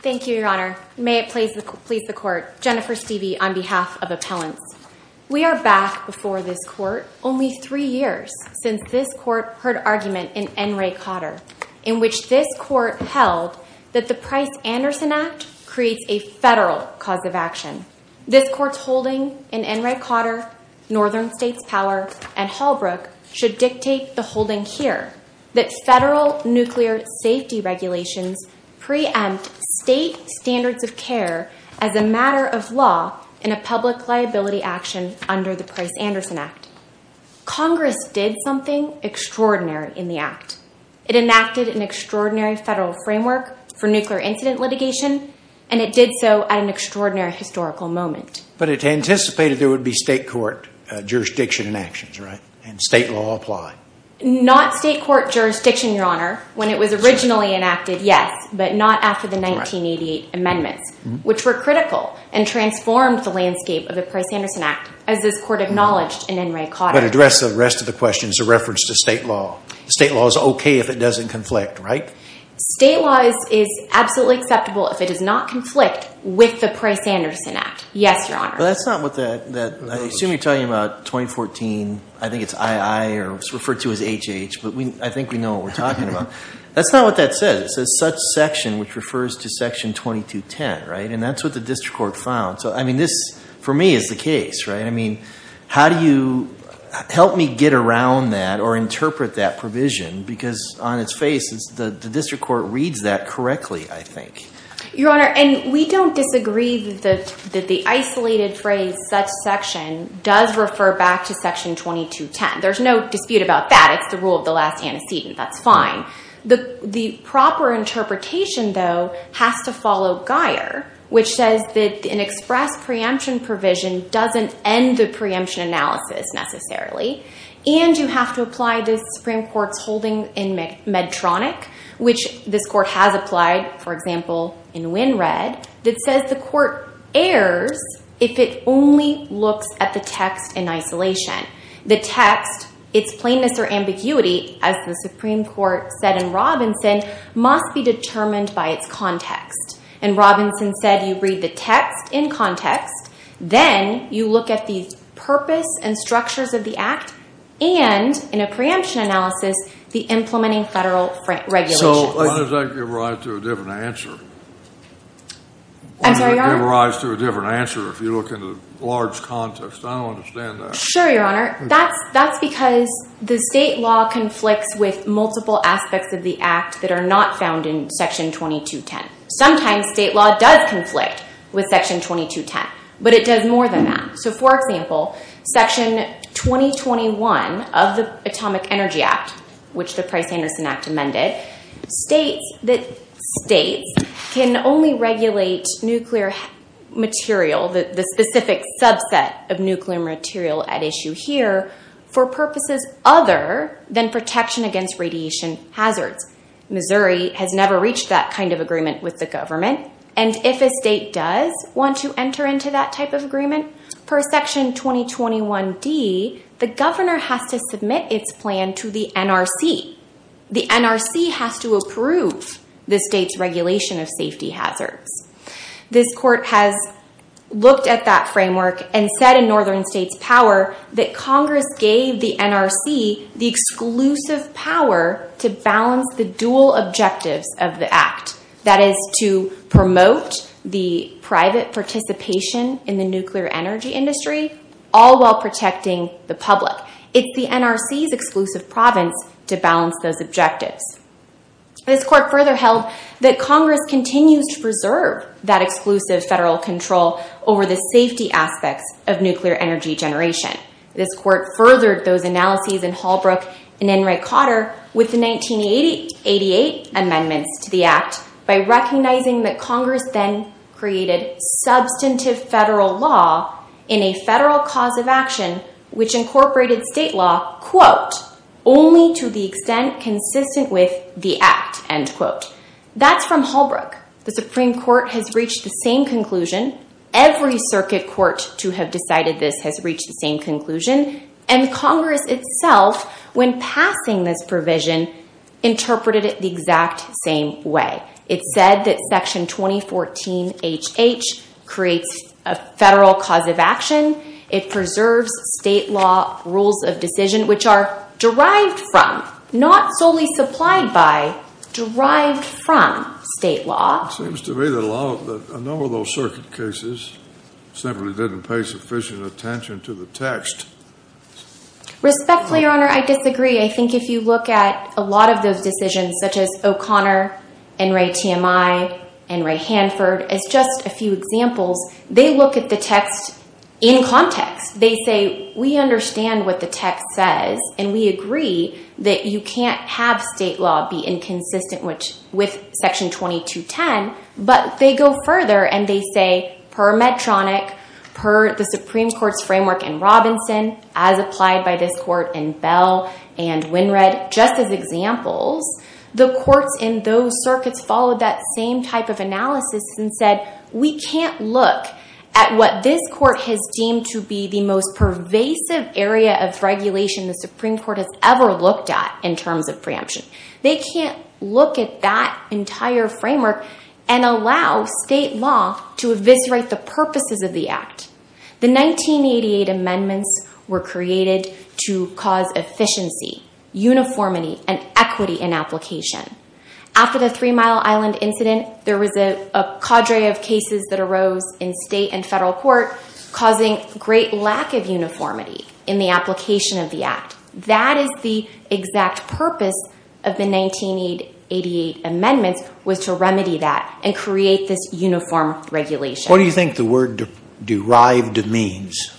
Thank you, Your Honor. May it please the Court, Jennifer Stevie on behalf of Appellants. We are back before this Court only three years since this Court heard argument in N. Ray Cotter in which this Court held that the Price-Anderson Act creates a federal cause of action. This framework should dictate the holding here that federal nuclear safety regulations preempt state standards of care as a matter of law in a public liability action under the Price-Anderson Act. Congress did something extraordinary in the Act. It enacted an extraordinary federal framework for nuclear incident litigation, and it did so at an extraordinary historical moment. But it anticipated there would be state court jurisdiction in actions, right? And state law applied? Not state court jurisdiction, Your Honor. When it was originally enacted, yes, but not after the 1988 amendments, which were critical and transformed the landscape of the Price-Anderson Act, as this Court acknowledged in N. Ray Cotter. But address the rest of the question as a reference to state law. State law is okay if it doesn't conflict, right? State law is absolutely acceptable if it does not conflict with the Price-Anderson Act. Yes, Your Honor. But that's not what that, I assume you're talking about 2014, I think it's II, or it's referred to as HH, but I think we know what we're talking about. That's not what that says. It says such section, which refers to Section 2210, right? And that's what the District Court found. So, I mean, this for me is the case, right? I mean, how do you help me get around that or interpret that provision? Because on its face, the District Court reads that correctly, I think. Your Honor, and we don't disagree that the isolated phrase, such section, does refer back to Section 2210. There's no dispute about that. It's the rule of the last antecedent. That's fine. The proper interpretation, though, has to follow Guyer, which says that an express preemption provision doesn't end the preemption analysis, necessarily. And you have to apply the Supreme Court's holding in Medtronic, which this Court has applied, for example, in Wynnred, that says the Court errs if it only looks at the text in isolation. The text, its plainness or ambiguity, as the Supreme Court said in Robinson, must be determined by its context. And Robinson said you read the text in context, then you look at the purpose and structures of the act, and in a preemption analysis, the implementing federal regulations. So why does that give rise to a different answer? I'm sorry, Your Honor? Why does it give rise to a different answer if you look at the large context? I don't understand that. Sure, Your Honor. That's because the state law conflicts with multiple aspects of the act that are not found in Section 2210. Sometimes state law does conflict with Section 2210, but it does more than that. So, for example, Section 2021 of the Atomic Energy Act, which the Price-Anderson Act amended, states that states can only regulate nuclear material, the specific subset of nuclear material at issue here, for purposes other than protection against radiation hazards. Missouri has never reached that kind of agreement with the government. And if a state does want to enter into that type of agreement, per Section 2021D, the governor has to submit its plan to the NRC. The NRC has to approve the state's regulation of safety hazards. This court has looked at that framework and said in Northern States Power that Congress gave the NRC the exclusive power to balance the dual objectives of the act, that is to promote the private participation in the nuclear energy industry, all while protecting the public. It's the NRC's exclusive province to balance those objectives. This court further held that Congress continues to preserve that exclusive federal control over the safety aspects of nuclear energy generation. This court furthered those analyses in Holbrook and Enright-Cotter with the 1988 amendments to the act by recognizing that Congress then created substantive federal law in a federal cause of action, which incorporated state law, quote, only to the extent consistent with the act, end quote. That's from Holbrook. The Supreme Court has reached the same conclusion. Every circuit court to have decided this has reached the same conclusion, and Congress itself, when passing this provision, interpreted it the exact same way. It said that Section 2014HH creates a federal cause of action. It preserves state law rules of decision, which are derived from, not solely supplied by, derived from state law. It seems to me that a number of those circuit cases simply didn't pay sufficient attention to the text. Respectfully, Your Honor, I disagree. I think if you look at a lot of those decisions, such as O'Connor, Enright-TMI, Enright-Hanford, as just a few examples, they look at the text in context. They say, we understand what the text says, and we agree that you can't have state law be inconsistent with Section 2210. But they go further, and they say, per Medtronic, per the Supreme Court's framework in Robinson, as applied by this court in Bell and Wynred, just as examples, the courts in those circuits followed that same type of analysis and said, we can't look at what this court has deemed to be the most pervasive area of regulation the Supreme Court has ever looked at in terms of preemption. They can't look at that entire framework and allow state law to eviscerate the purposes of the Act. The 1988 amendments were created to cause efficiency, uniformity, and equity in application. After the Three Mile Island incident, there was a cadre of cases that arose in state and federal court, causing great lack of uniformity in the application of the Act. That is the exact purpose of the 1988 amendments, was to remedy that and create this uniform regulation. What do you think the word derived means?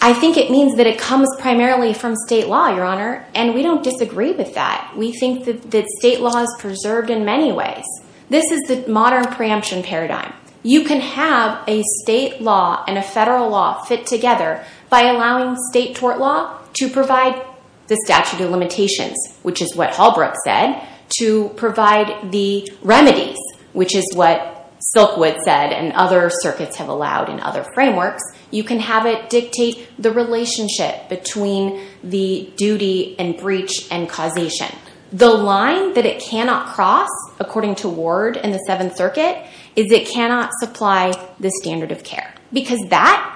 I think it means that it comes primarily from state law, Your Honor, and we don't disagree with that. We think that state law is preserved in many ways. This is the modern preemption paradigm. You can have a state law and a federal law fit together by allowing state tort law to provide the statute of limitations, which is what Hallbrook said, to provide the remedies, which is what Silkwood said and other circuits have allowed in other frameworks. You can have it dictate the relationship between the duty and breach and causation. The line that it cannot cross, according to Ward in the Seventh Circuit, is it cannot supply the standard of care because that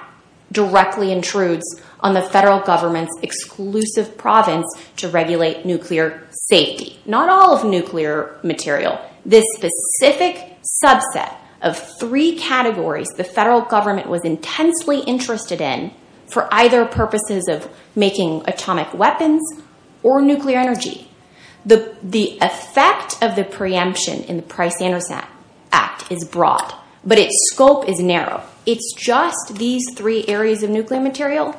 directly intrudes on the federal government's exclusive province to regulate nuclear safety. Not all of nuclear material. This specific subset of three categories the federal government was intensely interested in for either purposes of making atomic weapons or nuclear energy. The effect of the preemption in the Price-Anderson Act is broad, but its scope is narrow. It's just these three areas of nuclear material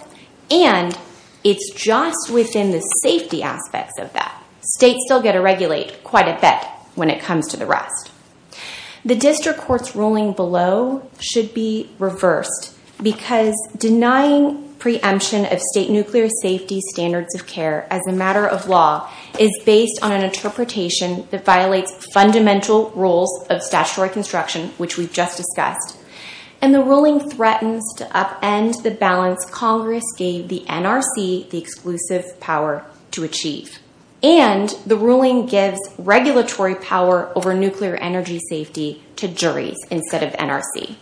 and it's just within the safety aspects of that. States still get to regulate quite a bit when it comes to the rest. The district court's ruling below should be reversed because denying preemption of state nuclear safety standards of care as a matter of law is based on an interpretation that violates fundamental rules of statutory construction, which we've just discussed. The ruling threatens to upend the balance Congress gave the NRC the exclusive power to achieve. The ruling gives regulatory power over nuclear energy safety to juries instead of NRC.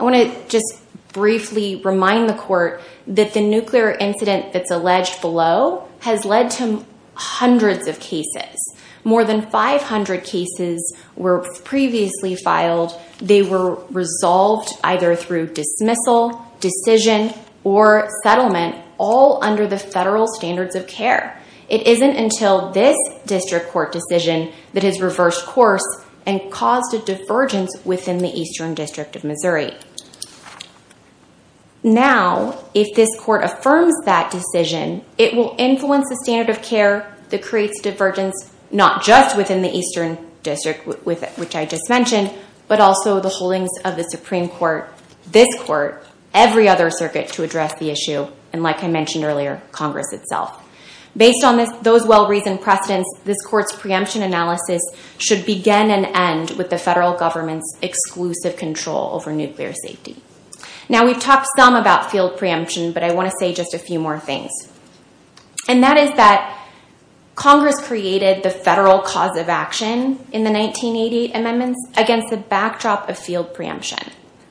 I want to just briefly remind the court that the nuclear incident that's alleged below has led to hundreds of cases. More than 500 cases were previously filed. They were resolved either through dismissal, decision, or settlement all under the federal standards of care. It isn't until this district court decision that has reversed course and caused a divergence within the Eastern District of Missouri. Now, if this court affirms that decision, it will influence the standard of care that creates divergence not just within the Eastern District, which I just mentioned, but also the holdings of the Supreme Court, this court, every other circuit to address the issue, and like I mentioned earlier, Congress itself. Based on those well-reasoned precedents, this court's preemption analysis should begin and end with the federal government's exclusive control over nuclear safety. Now, we've talked some about field preemption, but I want to say just a few more things. And that is that Congress created the federal cause of action in the 1988 amendments against the backdrop of field preemption.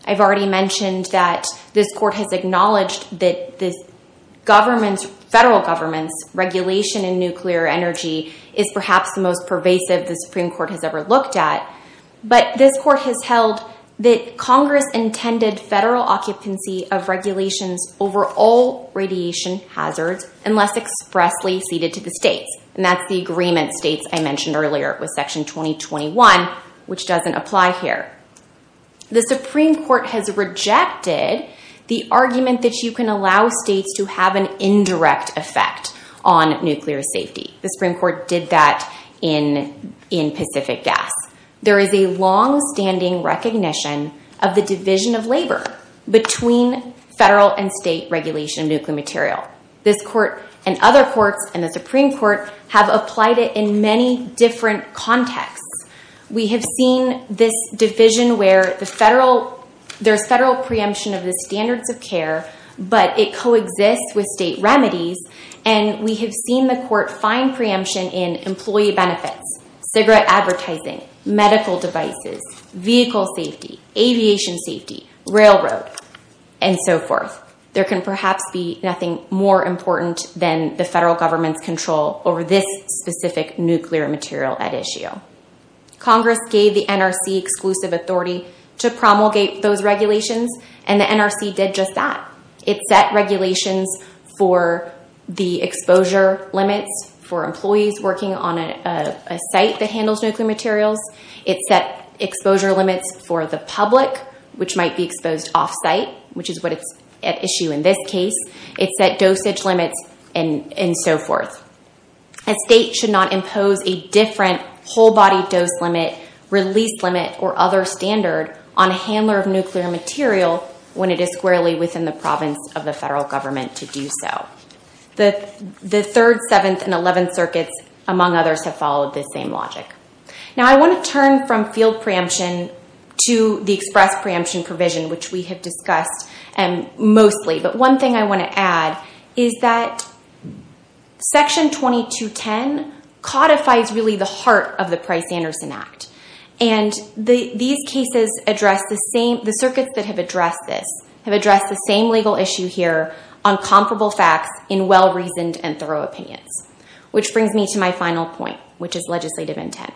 I've already mentioned that this court has acknowledged that the federal government's regulation in nuclear energy is perhaps the most pervasive the Supreme Court has ever looked at, but this court has held that Congress intended federal occupancy of regulations over all radiation hazards unless expressly ceded to the states. And that's the agreement states I mentioned earlier with Section 2021, which doesn't apply here. The Supreme Court has rejected the argument that you can allow states to have an indirect effect on nuclear safety. The Supreme Court did that in Pacific Gas. There is a longstanding recognition of the division of labor between federal and state regulation of nuclear material. This court and other courts and the Supreme Court have applied it in many different contexts. We have seen this division where there's federal preemption of the standards of care, but it coexists with state remedies, and we have medical devices, vehicle safety, aviation safety, railroad, and so forth. There can perhaps be nothing more important than the federal government's control over this specific nuclear material at issue. Congress gave the NRC exclusive authority to promulgate those regulations and the NRC did just that. It set regulations for the exposure limits for the public, which might be exposed off-site, which is what is at issue in this case. It set dosage limits and so forth. A state should not impose a different whole-body dose limit, release limit, or other standard on a handler of nuclear material when it is squarely within the province of the federal government to do so. The Third, Seventh, and Eleventh Circuits, among others, have followed this same logic. I want to turn from field preemption to the express preemption provision, which we have discussed mostly. One thing I want to add is that Section 2210 codifies the heart of the Price-Anderson Act. These cases address the same legal issue here on comparable facts in well-reasoned and thorough opinions, which brings me to my final point, which is legislative intent.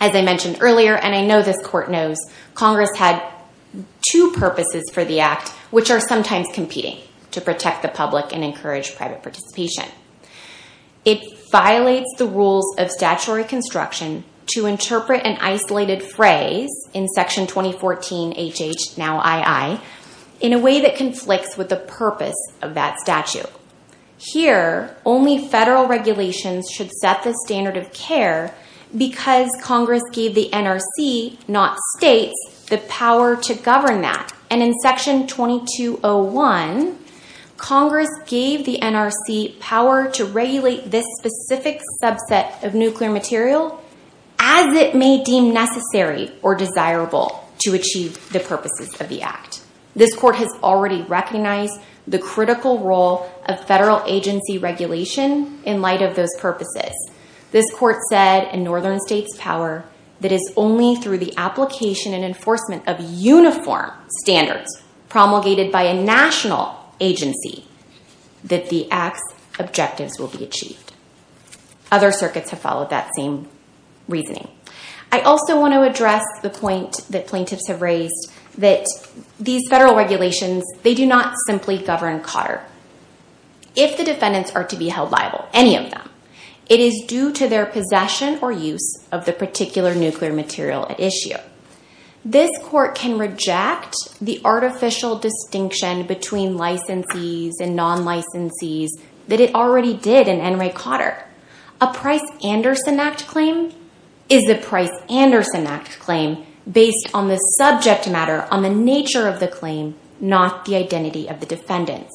As I mentioned earlier, and I know this Court knows, Congress had two purposes for the Act, which are sometimes competing to protect the public and encourage private participation. It violates the rules of statutory construction to interpret an isolated phrase in Section 2014 H.H. now I.I. in a way that should set the standard of care because Congress gave the NRC, not states, the power to govern that. In Section 2201, Congress gave the NRC power to regulate this specific subset of nuclear material as it may deem necessary or desirable to achieve the purposes of the Act. This Court has already recognized the critical role of federal agency regulation in light of those purposes. This Court said in Northern States Power that it is only through the application and enforcement of uniform standards promulgated by a national agency that the Act's objectives will be achieved. Other circuits have followed that same reasoning. I also want to address the point that plaintiffs have raised that these federal regulations, they do not simply govern Cotter. If the defendants are to be held liable, any of them, it is due to their possession or use of the particular nuclear material at issue. This Court can reject the artificial distinction between licensees and non-licensees that it already did in N. Ray Cotter. A Price-Anderson Act claim is the Price-Anderson Act claim based on the subject matter, on the nature of the claim, not the identity of the defendants.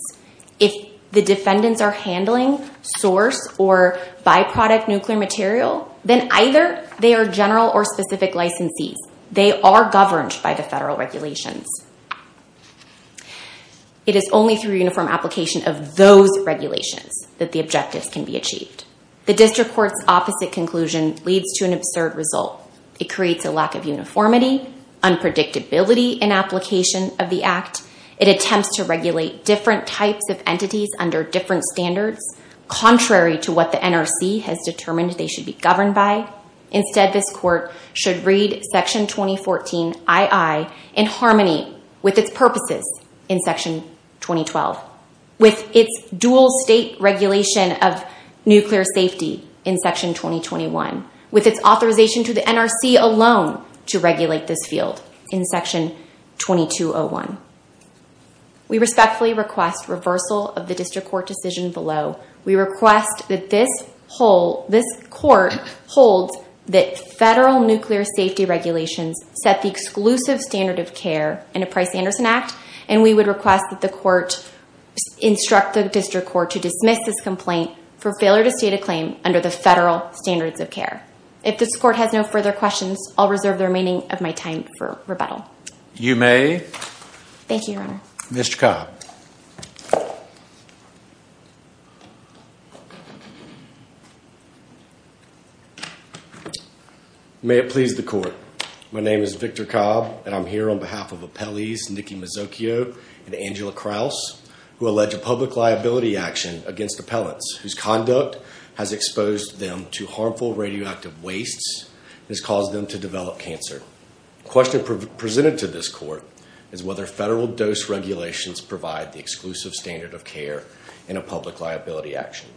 If the defendants are handling source or byproduct nuclear material, then either they are general or specific licensees. They are governed by the federal regulations. It is only through uniform application of those regulations that the objectives can be achieved. The District of Columbia has a different view on unpredictability in application of the Act. It attempts to regulate different types of entities under different standards, contrary to what the NRC has determined they should be governed by. Instead, this Court should read Section 2014 I.I. in harmony with its purposes in Section 2012, with its dual state regulation of nuclear safety in Section 2021, with its authorization to the NRC alone to regulate this field in Section 2201. We respectfully request reversal of the District Court decision below. We request that this Court hold that federal nuclear safety regulations set the exclusive standard of care in a Price-Anderson Act, and we would request that the Court instruct the District Court to dismiss this complaint for failure to state a claim under the federal standards of care. If this Court has no further questions, I will reserve the remaining of my time for rebuttal. You may. Thank you, Your Honor. Mr. Cobb. May it please the Court. My name is Victor Cobb, and I am here on behalf of Appellees Nikki Mazzocchio and Angela Krause, who allege a public liability action against appellants whose conduct has exposed them to harmful radioactive wastes and has caused them to develop cancer. The question presented to this Court is whether federal dose regulations provide the exclusive standard of care in a public liability action.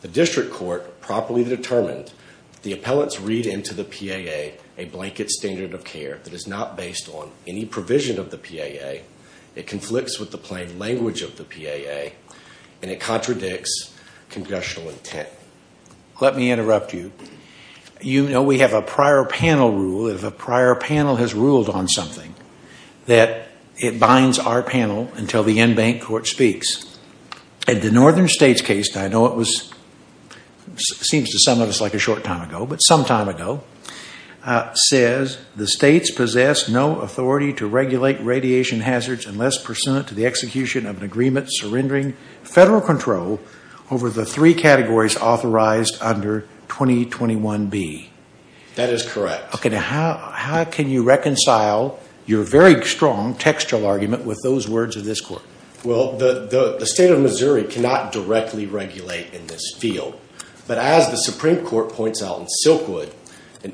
The District Court properly determined that the appellants read into the PAA a blanket standard of care that is not based on any provision of the PAA, it conflicts with the plain language of the PAA, and it contradicts congressional intent. Let me interrupt you. You know we have a prior panel rule, if a prior panel has ruled on something, that it binds our panel until the in-bank Court speaks. In the Northern States case, I know it was, seems to some of us like a short time ago, but some time ago, says the States possess no authority to regulate radiation hazards unless pursuant to the execution of an agreement surrendering federal control over the three categories authorized under 2021B. That is correct. Okay, now how can you reconcile your very strong textual argument with those words of this Court? Well, the State of Missouri cannot directly regulate in this field, but as the Supreme Court said,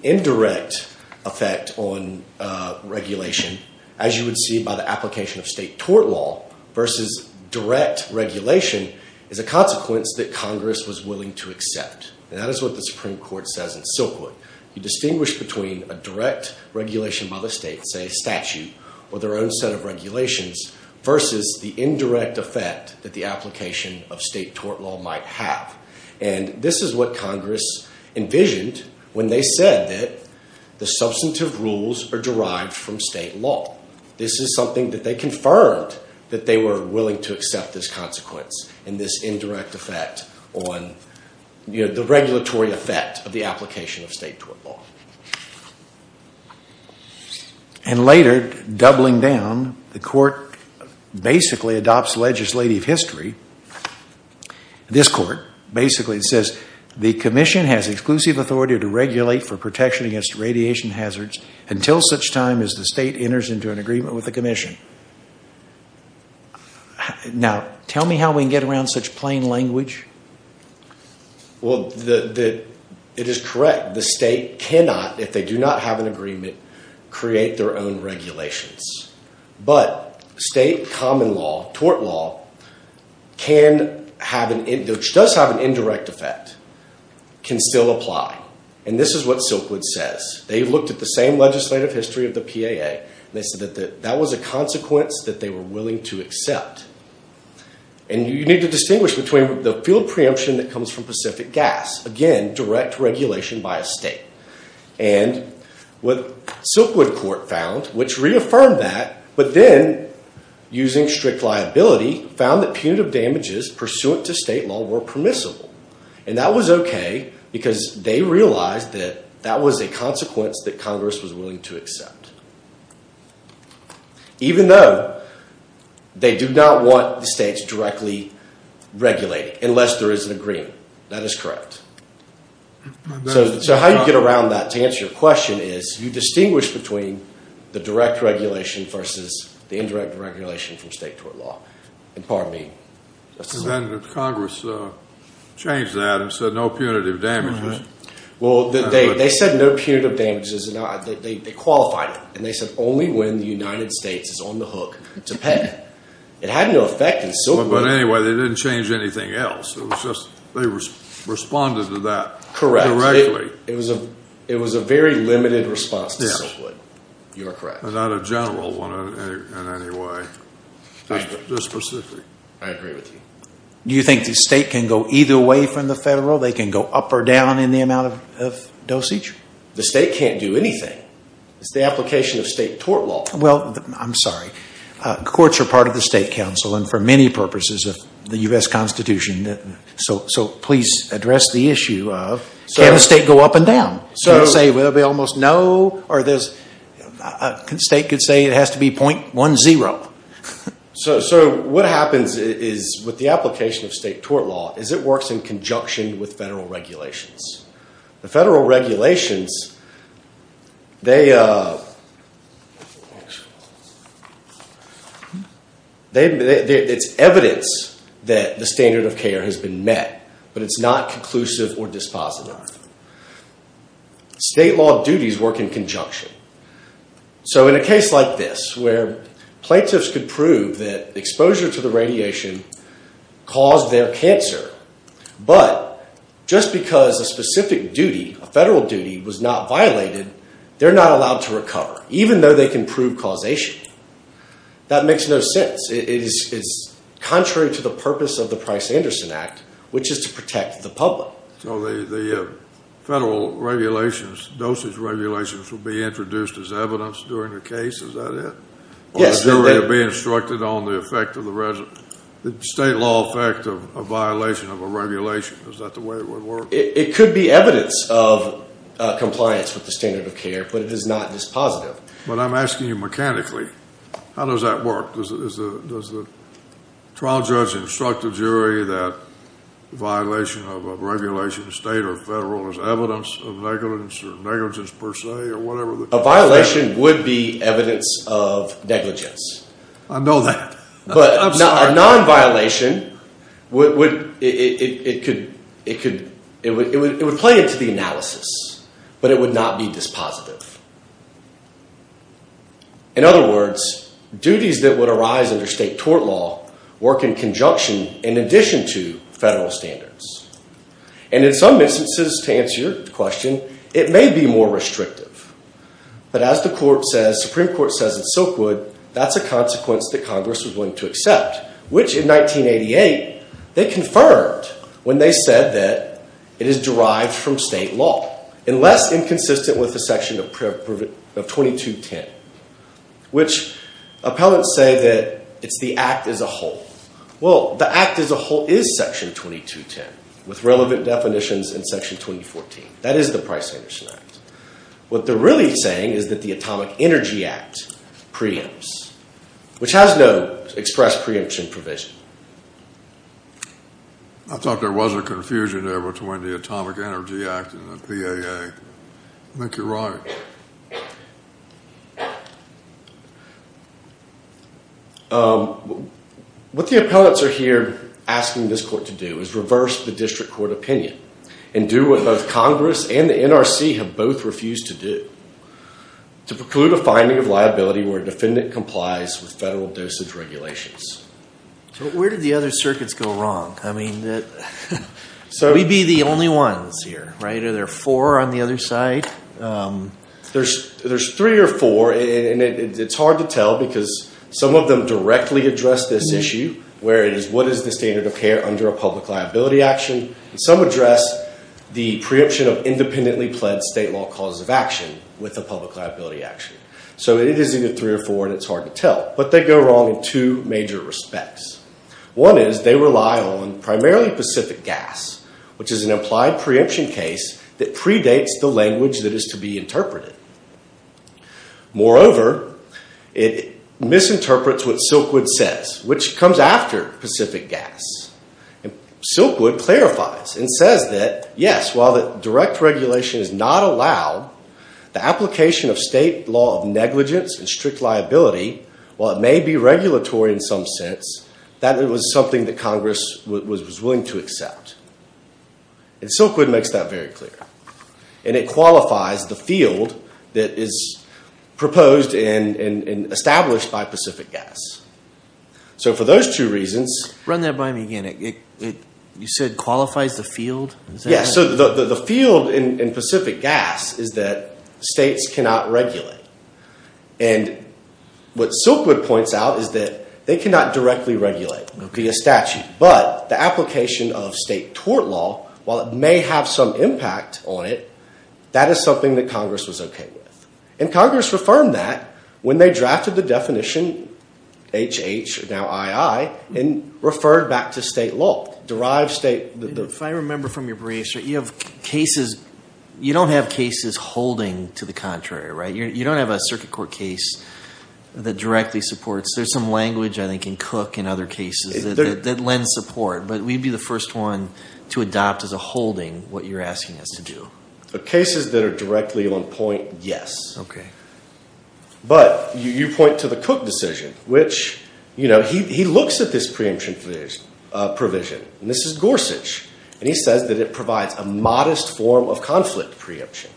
a direct effect on regulation, as you would see by the application of State tort law, versus direct regulation, is a consequence that Congress was willing to accept. And that is what the Supreme Court says in Silkwood. You distinguish between a direct regulation by the State, say a statute, or their own set of regulations, versus the indirect effect that the application of State tort law might have. And this is what Congress envisioned when they said that the substantive rules are derived from State law. This is something that they confirmed that they were willing to accept this consequence, and this indirect effect on, you know, the regulatory effect of the application of State tort law. And later, doubling down, the Court basically adopts legislative history. This Court basically says the Commission has exclusive authority to regulate for protection against radiation hazards until such time as the State enters into an agreement with the Commission. Now, tell me how we can get around such plain language? Well, it is correct. The State cannot, if they do not have an agreement, create their own regulations. But State common law, tort law, can have an, does have an indirect effect and can still apply. And this is what Silkwood says. They looked at the same legislative history of the PAA, and they said that was a consequence that they were willing to accept. And you need to distinguish between the field preemption that comes from Pacific Gas, again, direct regulation by a State. And what Silkwood Court found, which reaffirmed that, but then using strict liability, found that punitive damages pursuant to State law were permissible. And that was okay because they realized that that was a consequence that Congress was willing to accept. Even though they do not want the States directly regulating unless there is an agreement. That is correct. So how do you get around that to answer your question is you distinguish between the direct regulation versus the indirect regulation from State tort law. And pardon me. And then Congress changed that and said no punitive damages. Well they said no punitive damages. They qualified it. And they said only when the United States is on the hook to pay. It had no effect in Silkwood. But anyway, they did not change anything else. It was just they responded to that directly. It was a very limited response to Silkwood. You are correct. Not a general one in any way. Just specific. I agree with you. Do you think the State can go either way from the Federal? They can go up or down in the amount of dosage? The State can't do anything. It's the application of State tort law. Well, I'm sorry. Courts are part of the State Council and for many purposes of the U.S. Can the State go up and down? The State could say it has to be .10. So what happens with the application of State tort law is it works in conjunction with Federal regulations. The Federal regulations, it's evidence that the standard of care has been met. But it's not conclusive or dispositive. State law duties work in conjunction. So in a case like this where plaintiffs could prove that exposure to the radiation caused their cancer. But just because a specific duty, a Federal duty, was not violated, they're not allowed to recover. Even though they can prove causation. That makes no sense. It's contrary to the purpose of the Price-Anderson Act, which is to protect the public. So the Federal regulations, dosage regulations, will be introduced as evidence during the case, is that it? Yes. Or the jury will be instructed on the effect of the State law effect of a violation of a regulation. Is that the way it would work? It could be evidence of compliance with the standard of care, but it is not dispositive. But I'm asking you mechanically, how does that work? Does the trial judge instruct the jury that violation of a regulation, State or Federal, is evidence of negligence per se or whatever? A violation would be evidence of negligence. I know that. I'm sorry. But a non-violation, it would play into the analysis, but it would not be dispositive. In other words, duties that would arise under State tort law work in conjunction in addition to Federal standards. And in some instances, to answer your question, it may be more restrictive. But as the Supreme Court says in Silkwood, that's a consequence that Congress was willing to accept, which in 1988, they confirmed when they said that it is derived from State law, and less inconsistent with the Section of 2210, which appellants say that it's the Act as a whole. Well, the Act as a whole is Section 2210, with relevant definitions in Section 2014. That is the Price Anderson Act. What they're really saying is that the Atomic Energy Act preempts, which has no express preemption provision. I thought there was a confusion there between the Atomic Energy Act and the PAA. I think you're right. What the appellants are here asking this court to do is reverse the district court opinion and do what both Congress and the NRC have both refused to do, to preclude a finding of liability where a defendant complies with Federal dosage regulations. So where did the other circuits go wrong? I mean, we'd be the only ones here, right? Are there four on the other side? There's three or four, and it's hard to tell because some of them directly address this issue, where it is what is the standard of care under a public liability action. Some address the preemption of independently pledged State law cause of action with a public liability action. So it is either three or four, and it's hard to tell. But they go wrong in two major respects. One is they rely on primarily Pacific Gas, which is an implied preemption case that predates the language that is to be interpreted. Moreover, it misinterprets what Silkwood says, which comes after Pacific Gas. Silkwood clarifies and says that, yes, while the direct regulation is not allowed, the application of State law of negligence and strict liability, while it may be regulatory in some sense, that it was something that Congress was willing to accept. And Silkwood makes that very clear. And it qualifies the field that is proposed and established by Pacific Gas. So for those two reasons— Run that by me again. You said qualifies the field? Yes, so the field in Pacific Gas is that States cannot regulate. And what Silkwood points out is that they cannot directly regulate via statute. But the application of State tort law, while it may have some impact on it, that is something that Congress was okay with. And Congress reaffirmed that when they drafted the definition, HH, now II, and referred back to State law. If I remember from your brief, you have cases—you don't have cases holding to the contrary, right? You don't have a circuit court case that directly supports. There's some language, I think, in Cook and other cases that lends support. But we'd be the first one to adopt as a holding what you're asking us to do. The cases that are directly on point, yes. Okay. But you point to the Cook decision, which, you know, he looks at this preemption provision. And this is Gorsuch. And he says that it provides a modest form of conflict preemption.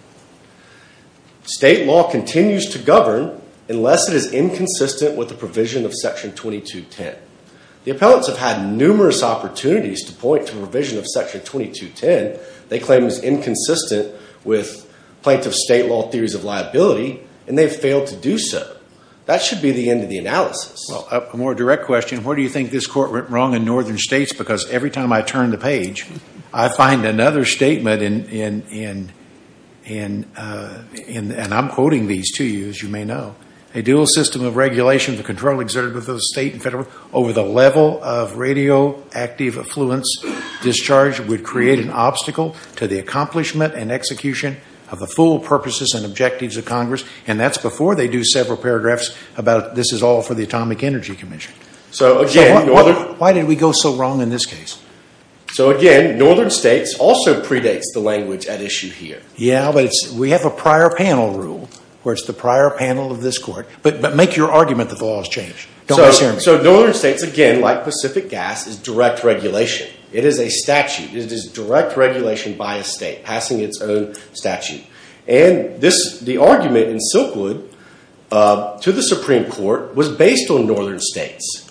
State law continues to govern unless it is inconsistent with the provision of Section 2210. The appellants have had numerous opportunities to point to a provision of Section 2210. They claim it's inconsistent with plaintiff's State law theories of liability. And they've failed to do so. That should be the end of the analysis. Well, a more direct question, where do you think this court went wrong in northern states? Because every time I turn the page, I find another statement. And I'm quoting these to you, as you may know. A dual system of regulation for control exerted with the state and federal over the level of radioactive affluence discharge would create an obstacle to the accomplishment and execution of the full purposes and objectives of Congress. And that's before they do several paragraphs about this is all for the Atomic Energy Commission. Why did we go so wrong in this case? So, again, northern states also predates the language at issue here. Yeah, but we have a prior panel rule where it's the prior panel of this court. But make your argument that the law has changed. So, northern states, again, like Pacific Gas, is direct regulation. It is a statute. It is direct regulation by a state passing its own statute. And the argument in Silkwood to the Supreme Court was based on northern states.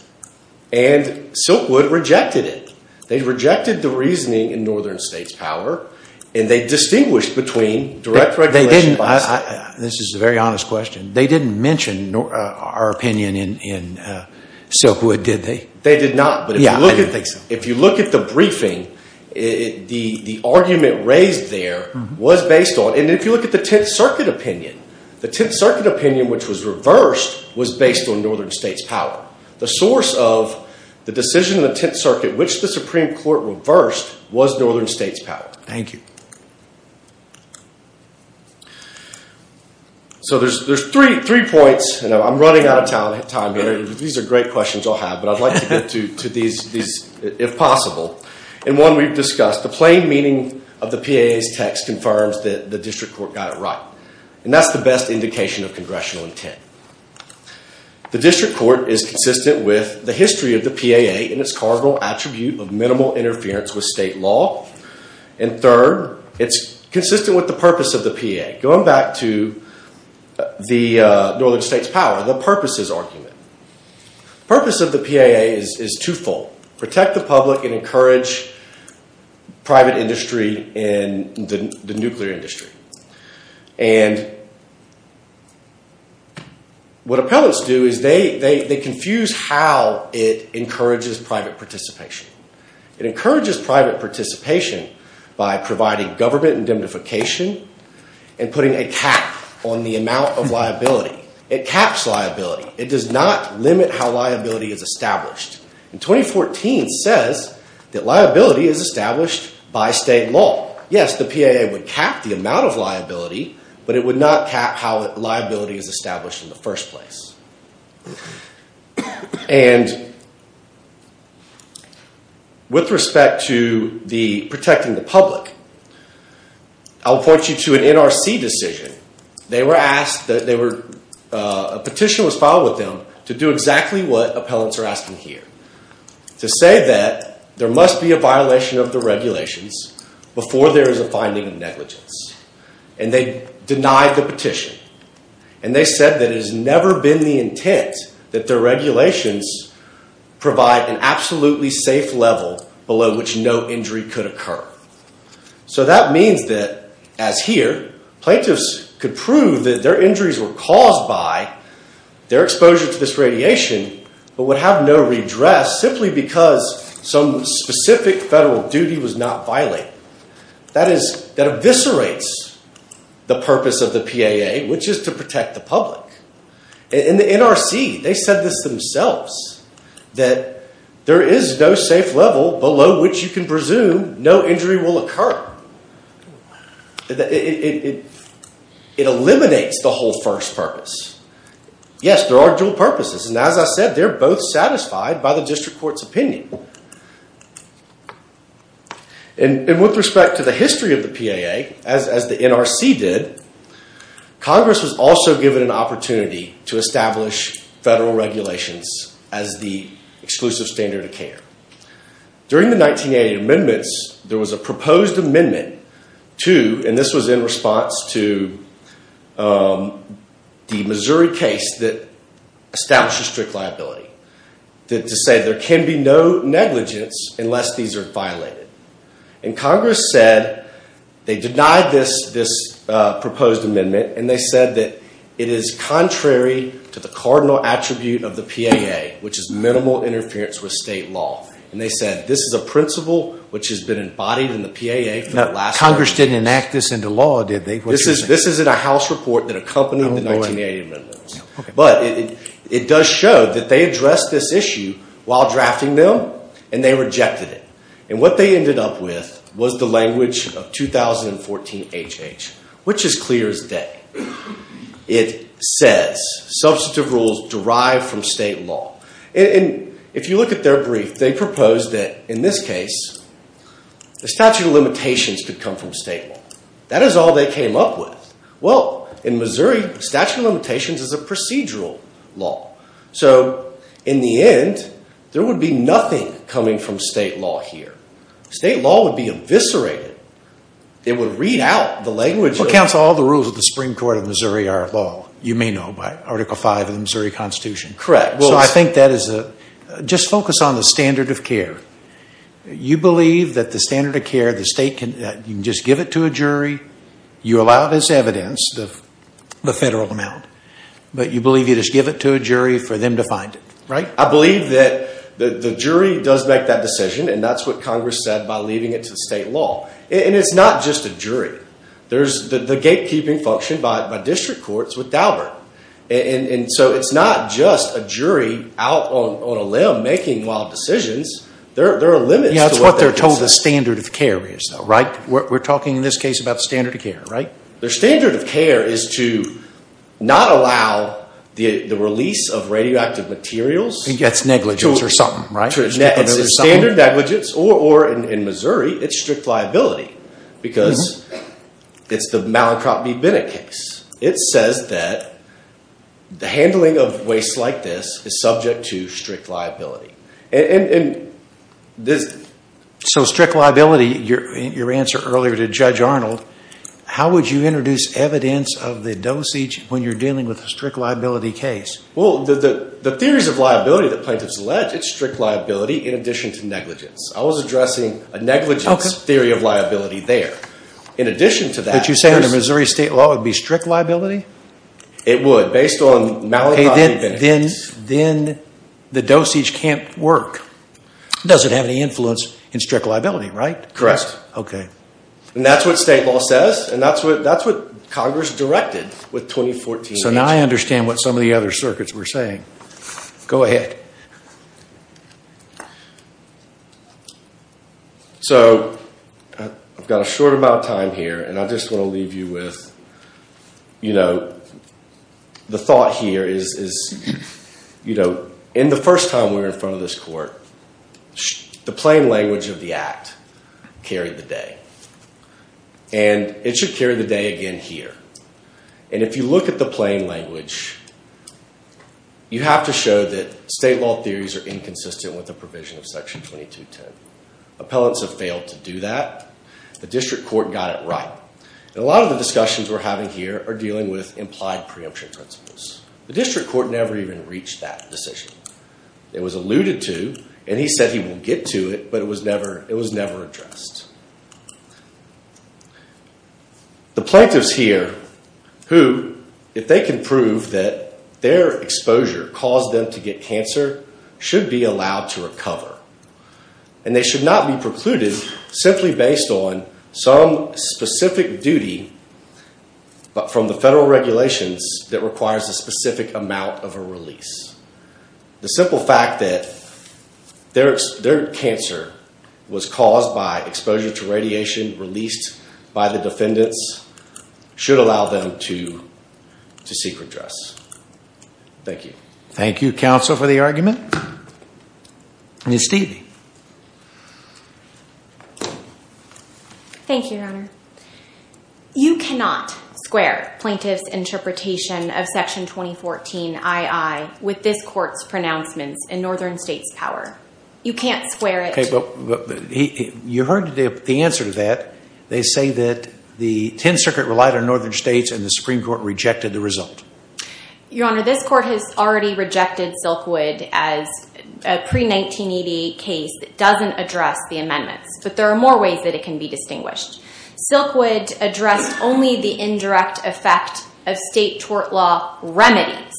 And Silkwood rejected it. They rejected the reasoning in northern states' power. And they distinguished between direct regulation by a state. This is a very honest question. They didn't mention our opinion in Silkwood, did they? They did not. Yeah, I didn't think so. If you look at the briefing, the argument raised there was based on and if you look at the Tenth Circuit opinion, the Tenth Circuit opinion, which was reversed, was based on northern states' power. The source of the decision in the Tenth Circuit, which the Supreme Court reversed, was northern states' power. Thank you. So, there's three points, and I'm running out of time here. These are great questions I'll have, but I'd like to get to these if possible. In one we've discussed, the plain meaning of the PAA's text confirms that the district court got it right. And that's the best indication of congressional intent. The district court is consistent with the history of the PAA and its cardinal attribute of minimal interference with state law. And third, it's consistent with the purpose of the PAA. Going back to the northern states' power, the purpose is argument. The purpose of the PAA is twofold. Protect the public and encourage private industry and the nuclear industry. And what appellants do is they confuse how it encourages private participation. It encourages private participation by providing government indemnification and putting a cap on the amount of liability. It caps liability. It does not limit how liability is established. And 2014 says that liability is established by state law. Yes, the PAA would cap the amount of liability, but it would not cap how liability is established in the first place. And with respect to protecting the public, I'll point you to an NRC decision. A petition was filed with them to do exactly what appellants are asking here. To say that there must be a violation of the regulations before there is a finding of negligence. And they denied the petition. And they said that it has never been the intent that the regulations provide an absolutely safe level below which no injury could occur. So that means that, as here, plaintiffs could prove that their injuries were caused by their exposure to this radiation, but would have no redress simply because some specific federal duty was not violated. That eviscerates the purpose of the PAA, which is to protect the public. In the NRC, they said this themselves, that there is no safe level below which you can presume no injury will occur. It eliminates the whole first purpose. Yes, there are dual purposes, and as I said, they're both satisfied by the district court's opinion. And with respect to the history of the PAA, as the NRC did, Congress was also given an opportunity to establish federal regulations as the exclusive standard of care. During the 1980 amendments, there was a proposed amendment to, and this was in response to, the Missouri case that established a strict liability. To say there can be no negligence unless these are violated. And Congress said, they denied this proposed amendment, and they said that it is contrary to the cardinal attribute of the PAA, which is minimal interference with state law. And they said this is a principle which has been embodied in the PAA. Congress didn't enact this into law, did they? This is in a House report that accompanied the 1980 amendments. But it does show that they addressed this issue while drafting them, and they rejected it. And what they ended up with was the language of 2014HH, which is clear as day. It says, substantive rules derived from state law. And if you look at their brief, they propose that, in this case, the statute of limitations could come from state law. That is all they came up with. Well, in Missouri, statute of limitations is a procedural law. So, in the end, there would be nothing coming from state law here. State law would be eviscerated. It would read out the language. Well, counsel, all the rules of the Supreme Court of Missouri are law. You may know by Article V of the Missouri Constitution. Correct. So I think that is a, just focus on the standard of care. You believe that the standard of care, the state can, you can just give it to a jury. You allow this evidence, the federal amount. But you believe you just give it to a jury for them to find it, right? I believe that the jury does make that decision, and that is what Congress said by leaving it to state law. And it is not just a jury. There is the gatekeeping function by district courts with Daubert. And so it is not just a jury out on a limb making wild decisions. There are limits to what that is. That is what they are told the standard of care is, right? We are talking in this case about the standard of care, right? The standard of care is to not allow the release of radioactive materials. That is negligence or something, right? It is standard negligence, or in Missouri, it is strict liability. Because it is the Mallinckrodt v. Bennett case. It says that the handling of waste like this is subject to strict liability. So strict liability, your answer earlier to Judge Arnold, how would you introduce evidence of the dosage when you are dealing with a strict liability case? Well, the theories of liability that plaintiffs allege, it is strict liability in addition to negligence. I was addressing a negligence theory of liability there. But you say under Missouri state law it would be strict liability? It would, based on Mallinckrodt v. Bennett. Then the dosage cannot work. It does not have any influence in strict liability, right? Correct. Okay. And that is what state law says, and that is what Congress directed with 2014. So now I understand what some of the other circuits were saying. Go ahead. So I have got a short amount of time here, and I just want to leave you with, you know, the thought here is, you know, in the first time we were in front of this court, the plain language of the Act carried the day. And it should carry the day again here. And if you look at the plain language, you have to show that state law theories are inconsistent with the provision of Section 2210. Appellants have failed to do that. The district court got it right. And a lot of the discussions we are having here are dealing with implied preemption principles. The district court never even reached that decision. It was alluded to, and he said he will get to it, but it was never addressed. The plaintiffs here who, if they can prove that their exposure caused them to get cancer, should be allowed to recover. And they should not be precluded simply based on some specific duty from the federal regulations that requires a specific amount of a release. The simple fact that their cancer was caused by exposure to radiation released by the defendants should allow them to seek redress. Thank you. Thank you, counsel, for the argument. Ms. Stevie. Thank you, Your Honor. You cannot square plaintiff's interpretation of Section 2014-II with this court's pronouncements in Northern States power. You can't square it. You heard the answer to that. They say that the Tenth Circuit relied on Northern States and the Supreme Court rejected the result. Your Honor, this court has already rejected Silkwood as a pre-1988 case that doesn't address the amendments. But there are more ways that it can be distinguished. Silkwood addressed only the indirect effect of state tort law remedies.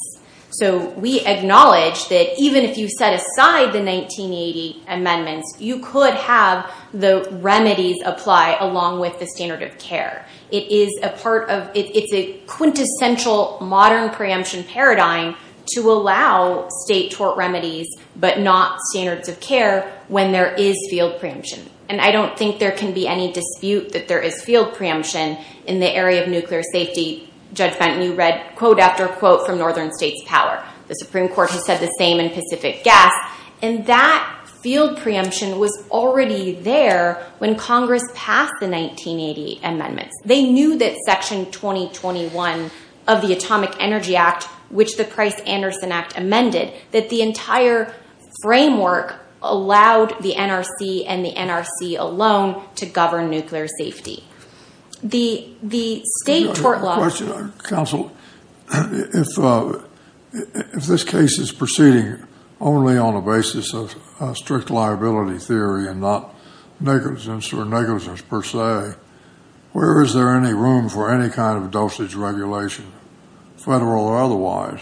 So we acknowledge that even if you set aside the 1980 amendments, you could have the remedies apply along with the standard of care. It's a quintessential modern preemption paradigm to allow state tort remedies but not standards of care when there is field preemption. And I don't think there can be any dispute that there is field preemption in the area of nuclear safety. Judge Fenton, you read quote after quote from Northern States power. The Supreme Court has said the same in Pacific Gas. And that field preemption was already there when Congress passed the 1980 amendments. They knew that Section 2021 of the Atomic Energy Act, which the Price-Anderson Act amended, that the entire framework allowed the NRC and the NRC alone to govern nuclear safety. The state tort law— Counsel, if this case is proceeding only on the basis of strict liability theory and not negligence or negligence per se, where is there any room for any kind of dosage regulation, federal or otherwise?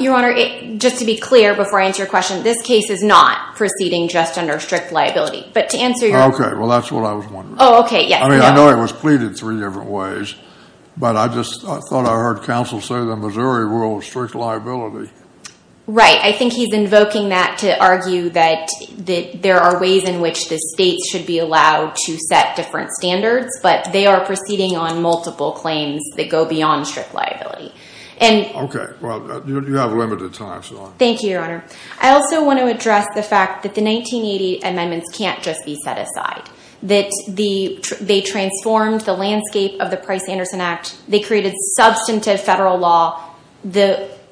Your Honor, just to be clear before I answer your question, this case is not proceeding just under strict liability. But to answer your— Okay, well, that's what I was wondering. Oh, okay, yes. I mean, I know it was pleaded three different ways, but I just thought I heard counsel say the Missouri rule was strict liability. Right. I think he's invoking that to argue that there are ways in which the states should be allowed to set different standards, but they are proceeding on multiple claims that go beyond strict liability. Okay, well, you have limited time, so— Thank you, Your Honor. I also want to address the fact that the 1980 amendments can't just be set aside, that they transformed the landscape of the Price-Anderson Act. They created substantive federal law.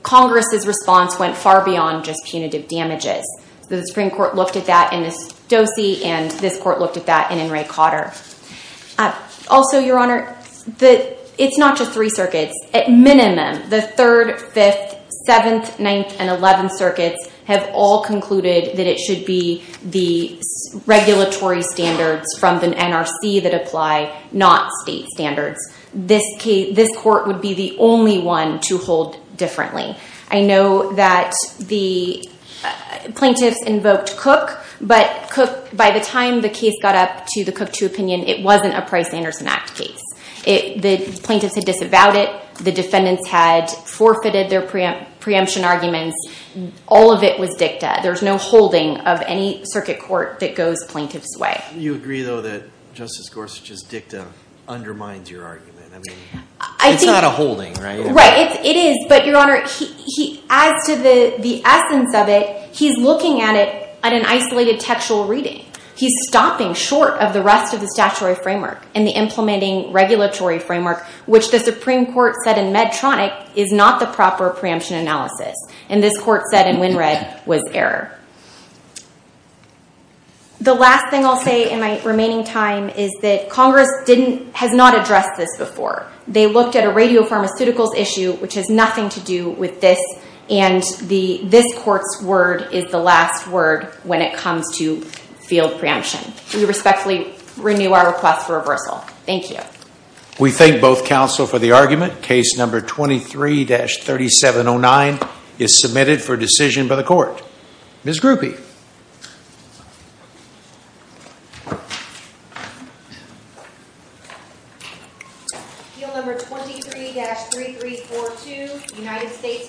Congress's response went far beyond just punitive damages. The Supreme Court looked at that in Estosi, and this Court looked at that in Enright-Cotter. Also, Your Honor, it's not just three circuits. At minimum, the 3rd, 5th, 7th, 9th, and 11th circuits have all concluded that it should be the regulatory standards from the NRC that apply, not state standards. This Court would be the only one to hold differently. I know that the plaintiffs invoked Cook, but by the time the case got up to the Cook 2 opinion, it wasn't a Price-Anderson Act case. The plaintiffs had disavowed it. The defendants had forfeited their preemption arguments. All of it was dicta. There's no holding of any circuit court that goes plaintiff's way. You agree, though, that Justice Gorsuch's dicta undermines your argument? I mean, it's not a holding, right? Right, it is, but, Your Honor, as to the essence of it, he's looking at it at an isolated textual reading. He's stopping short of the rest of the statutory framework and the implementing regulatory framework, which the Supreme Court said in Medtronic is not the proper preemption analysis, and this Court said in Wynnred was error. The last thing I'll say in my remaining time is that Congress has not addressed this before. They looked at a radiopharmaceuticals issue, which has nothing to do with this, and this Court's word is the last word when it comes to field preemption. We respectfully renew our request for reversal. Thank you. We thank both counsel for the argument. Case number 23-3709 is submitted for decision by the court. Ms. Grupe. Case number 23-3342, United States v. Keegan Wiley.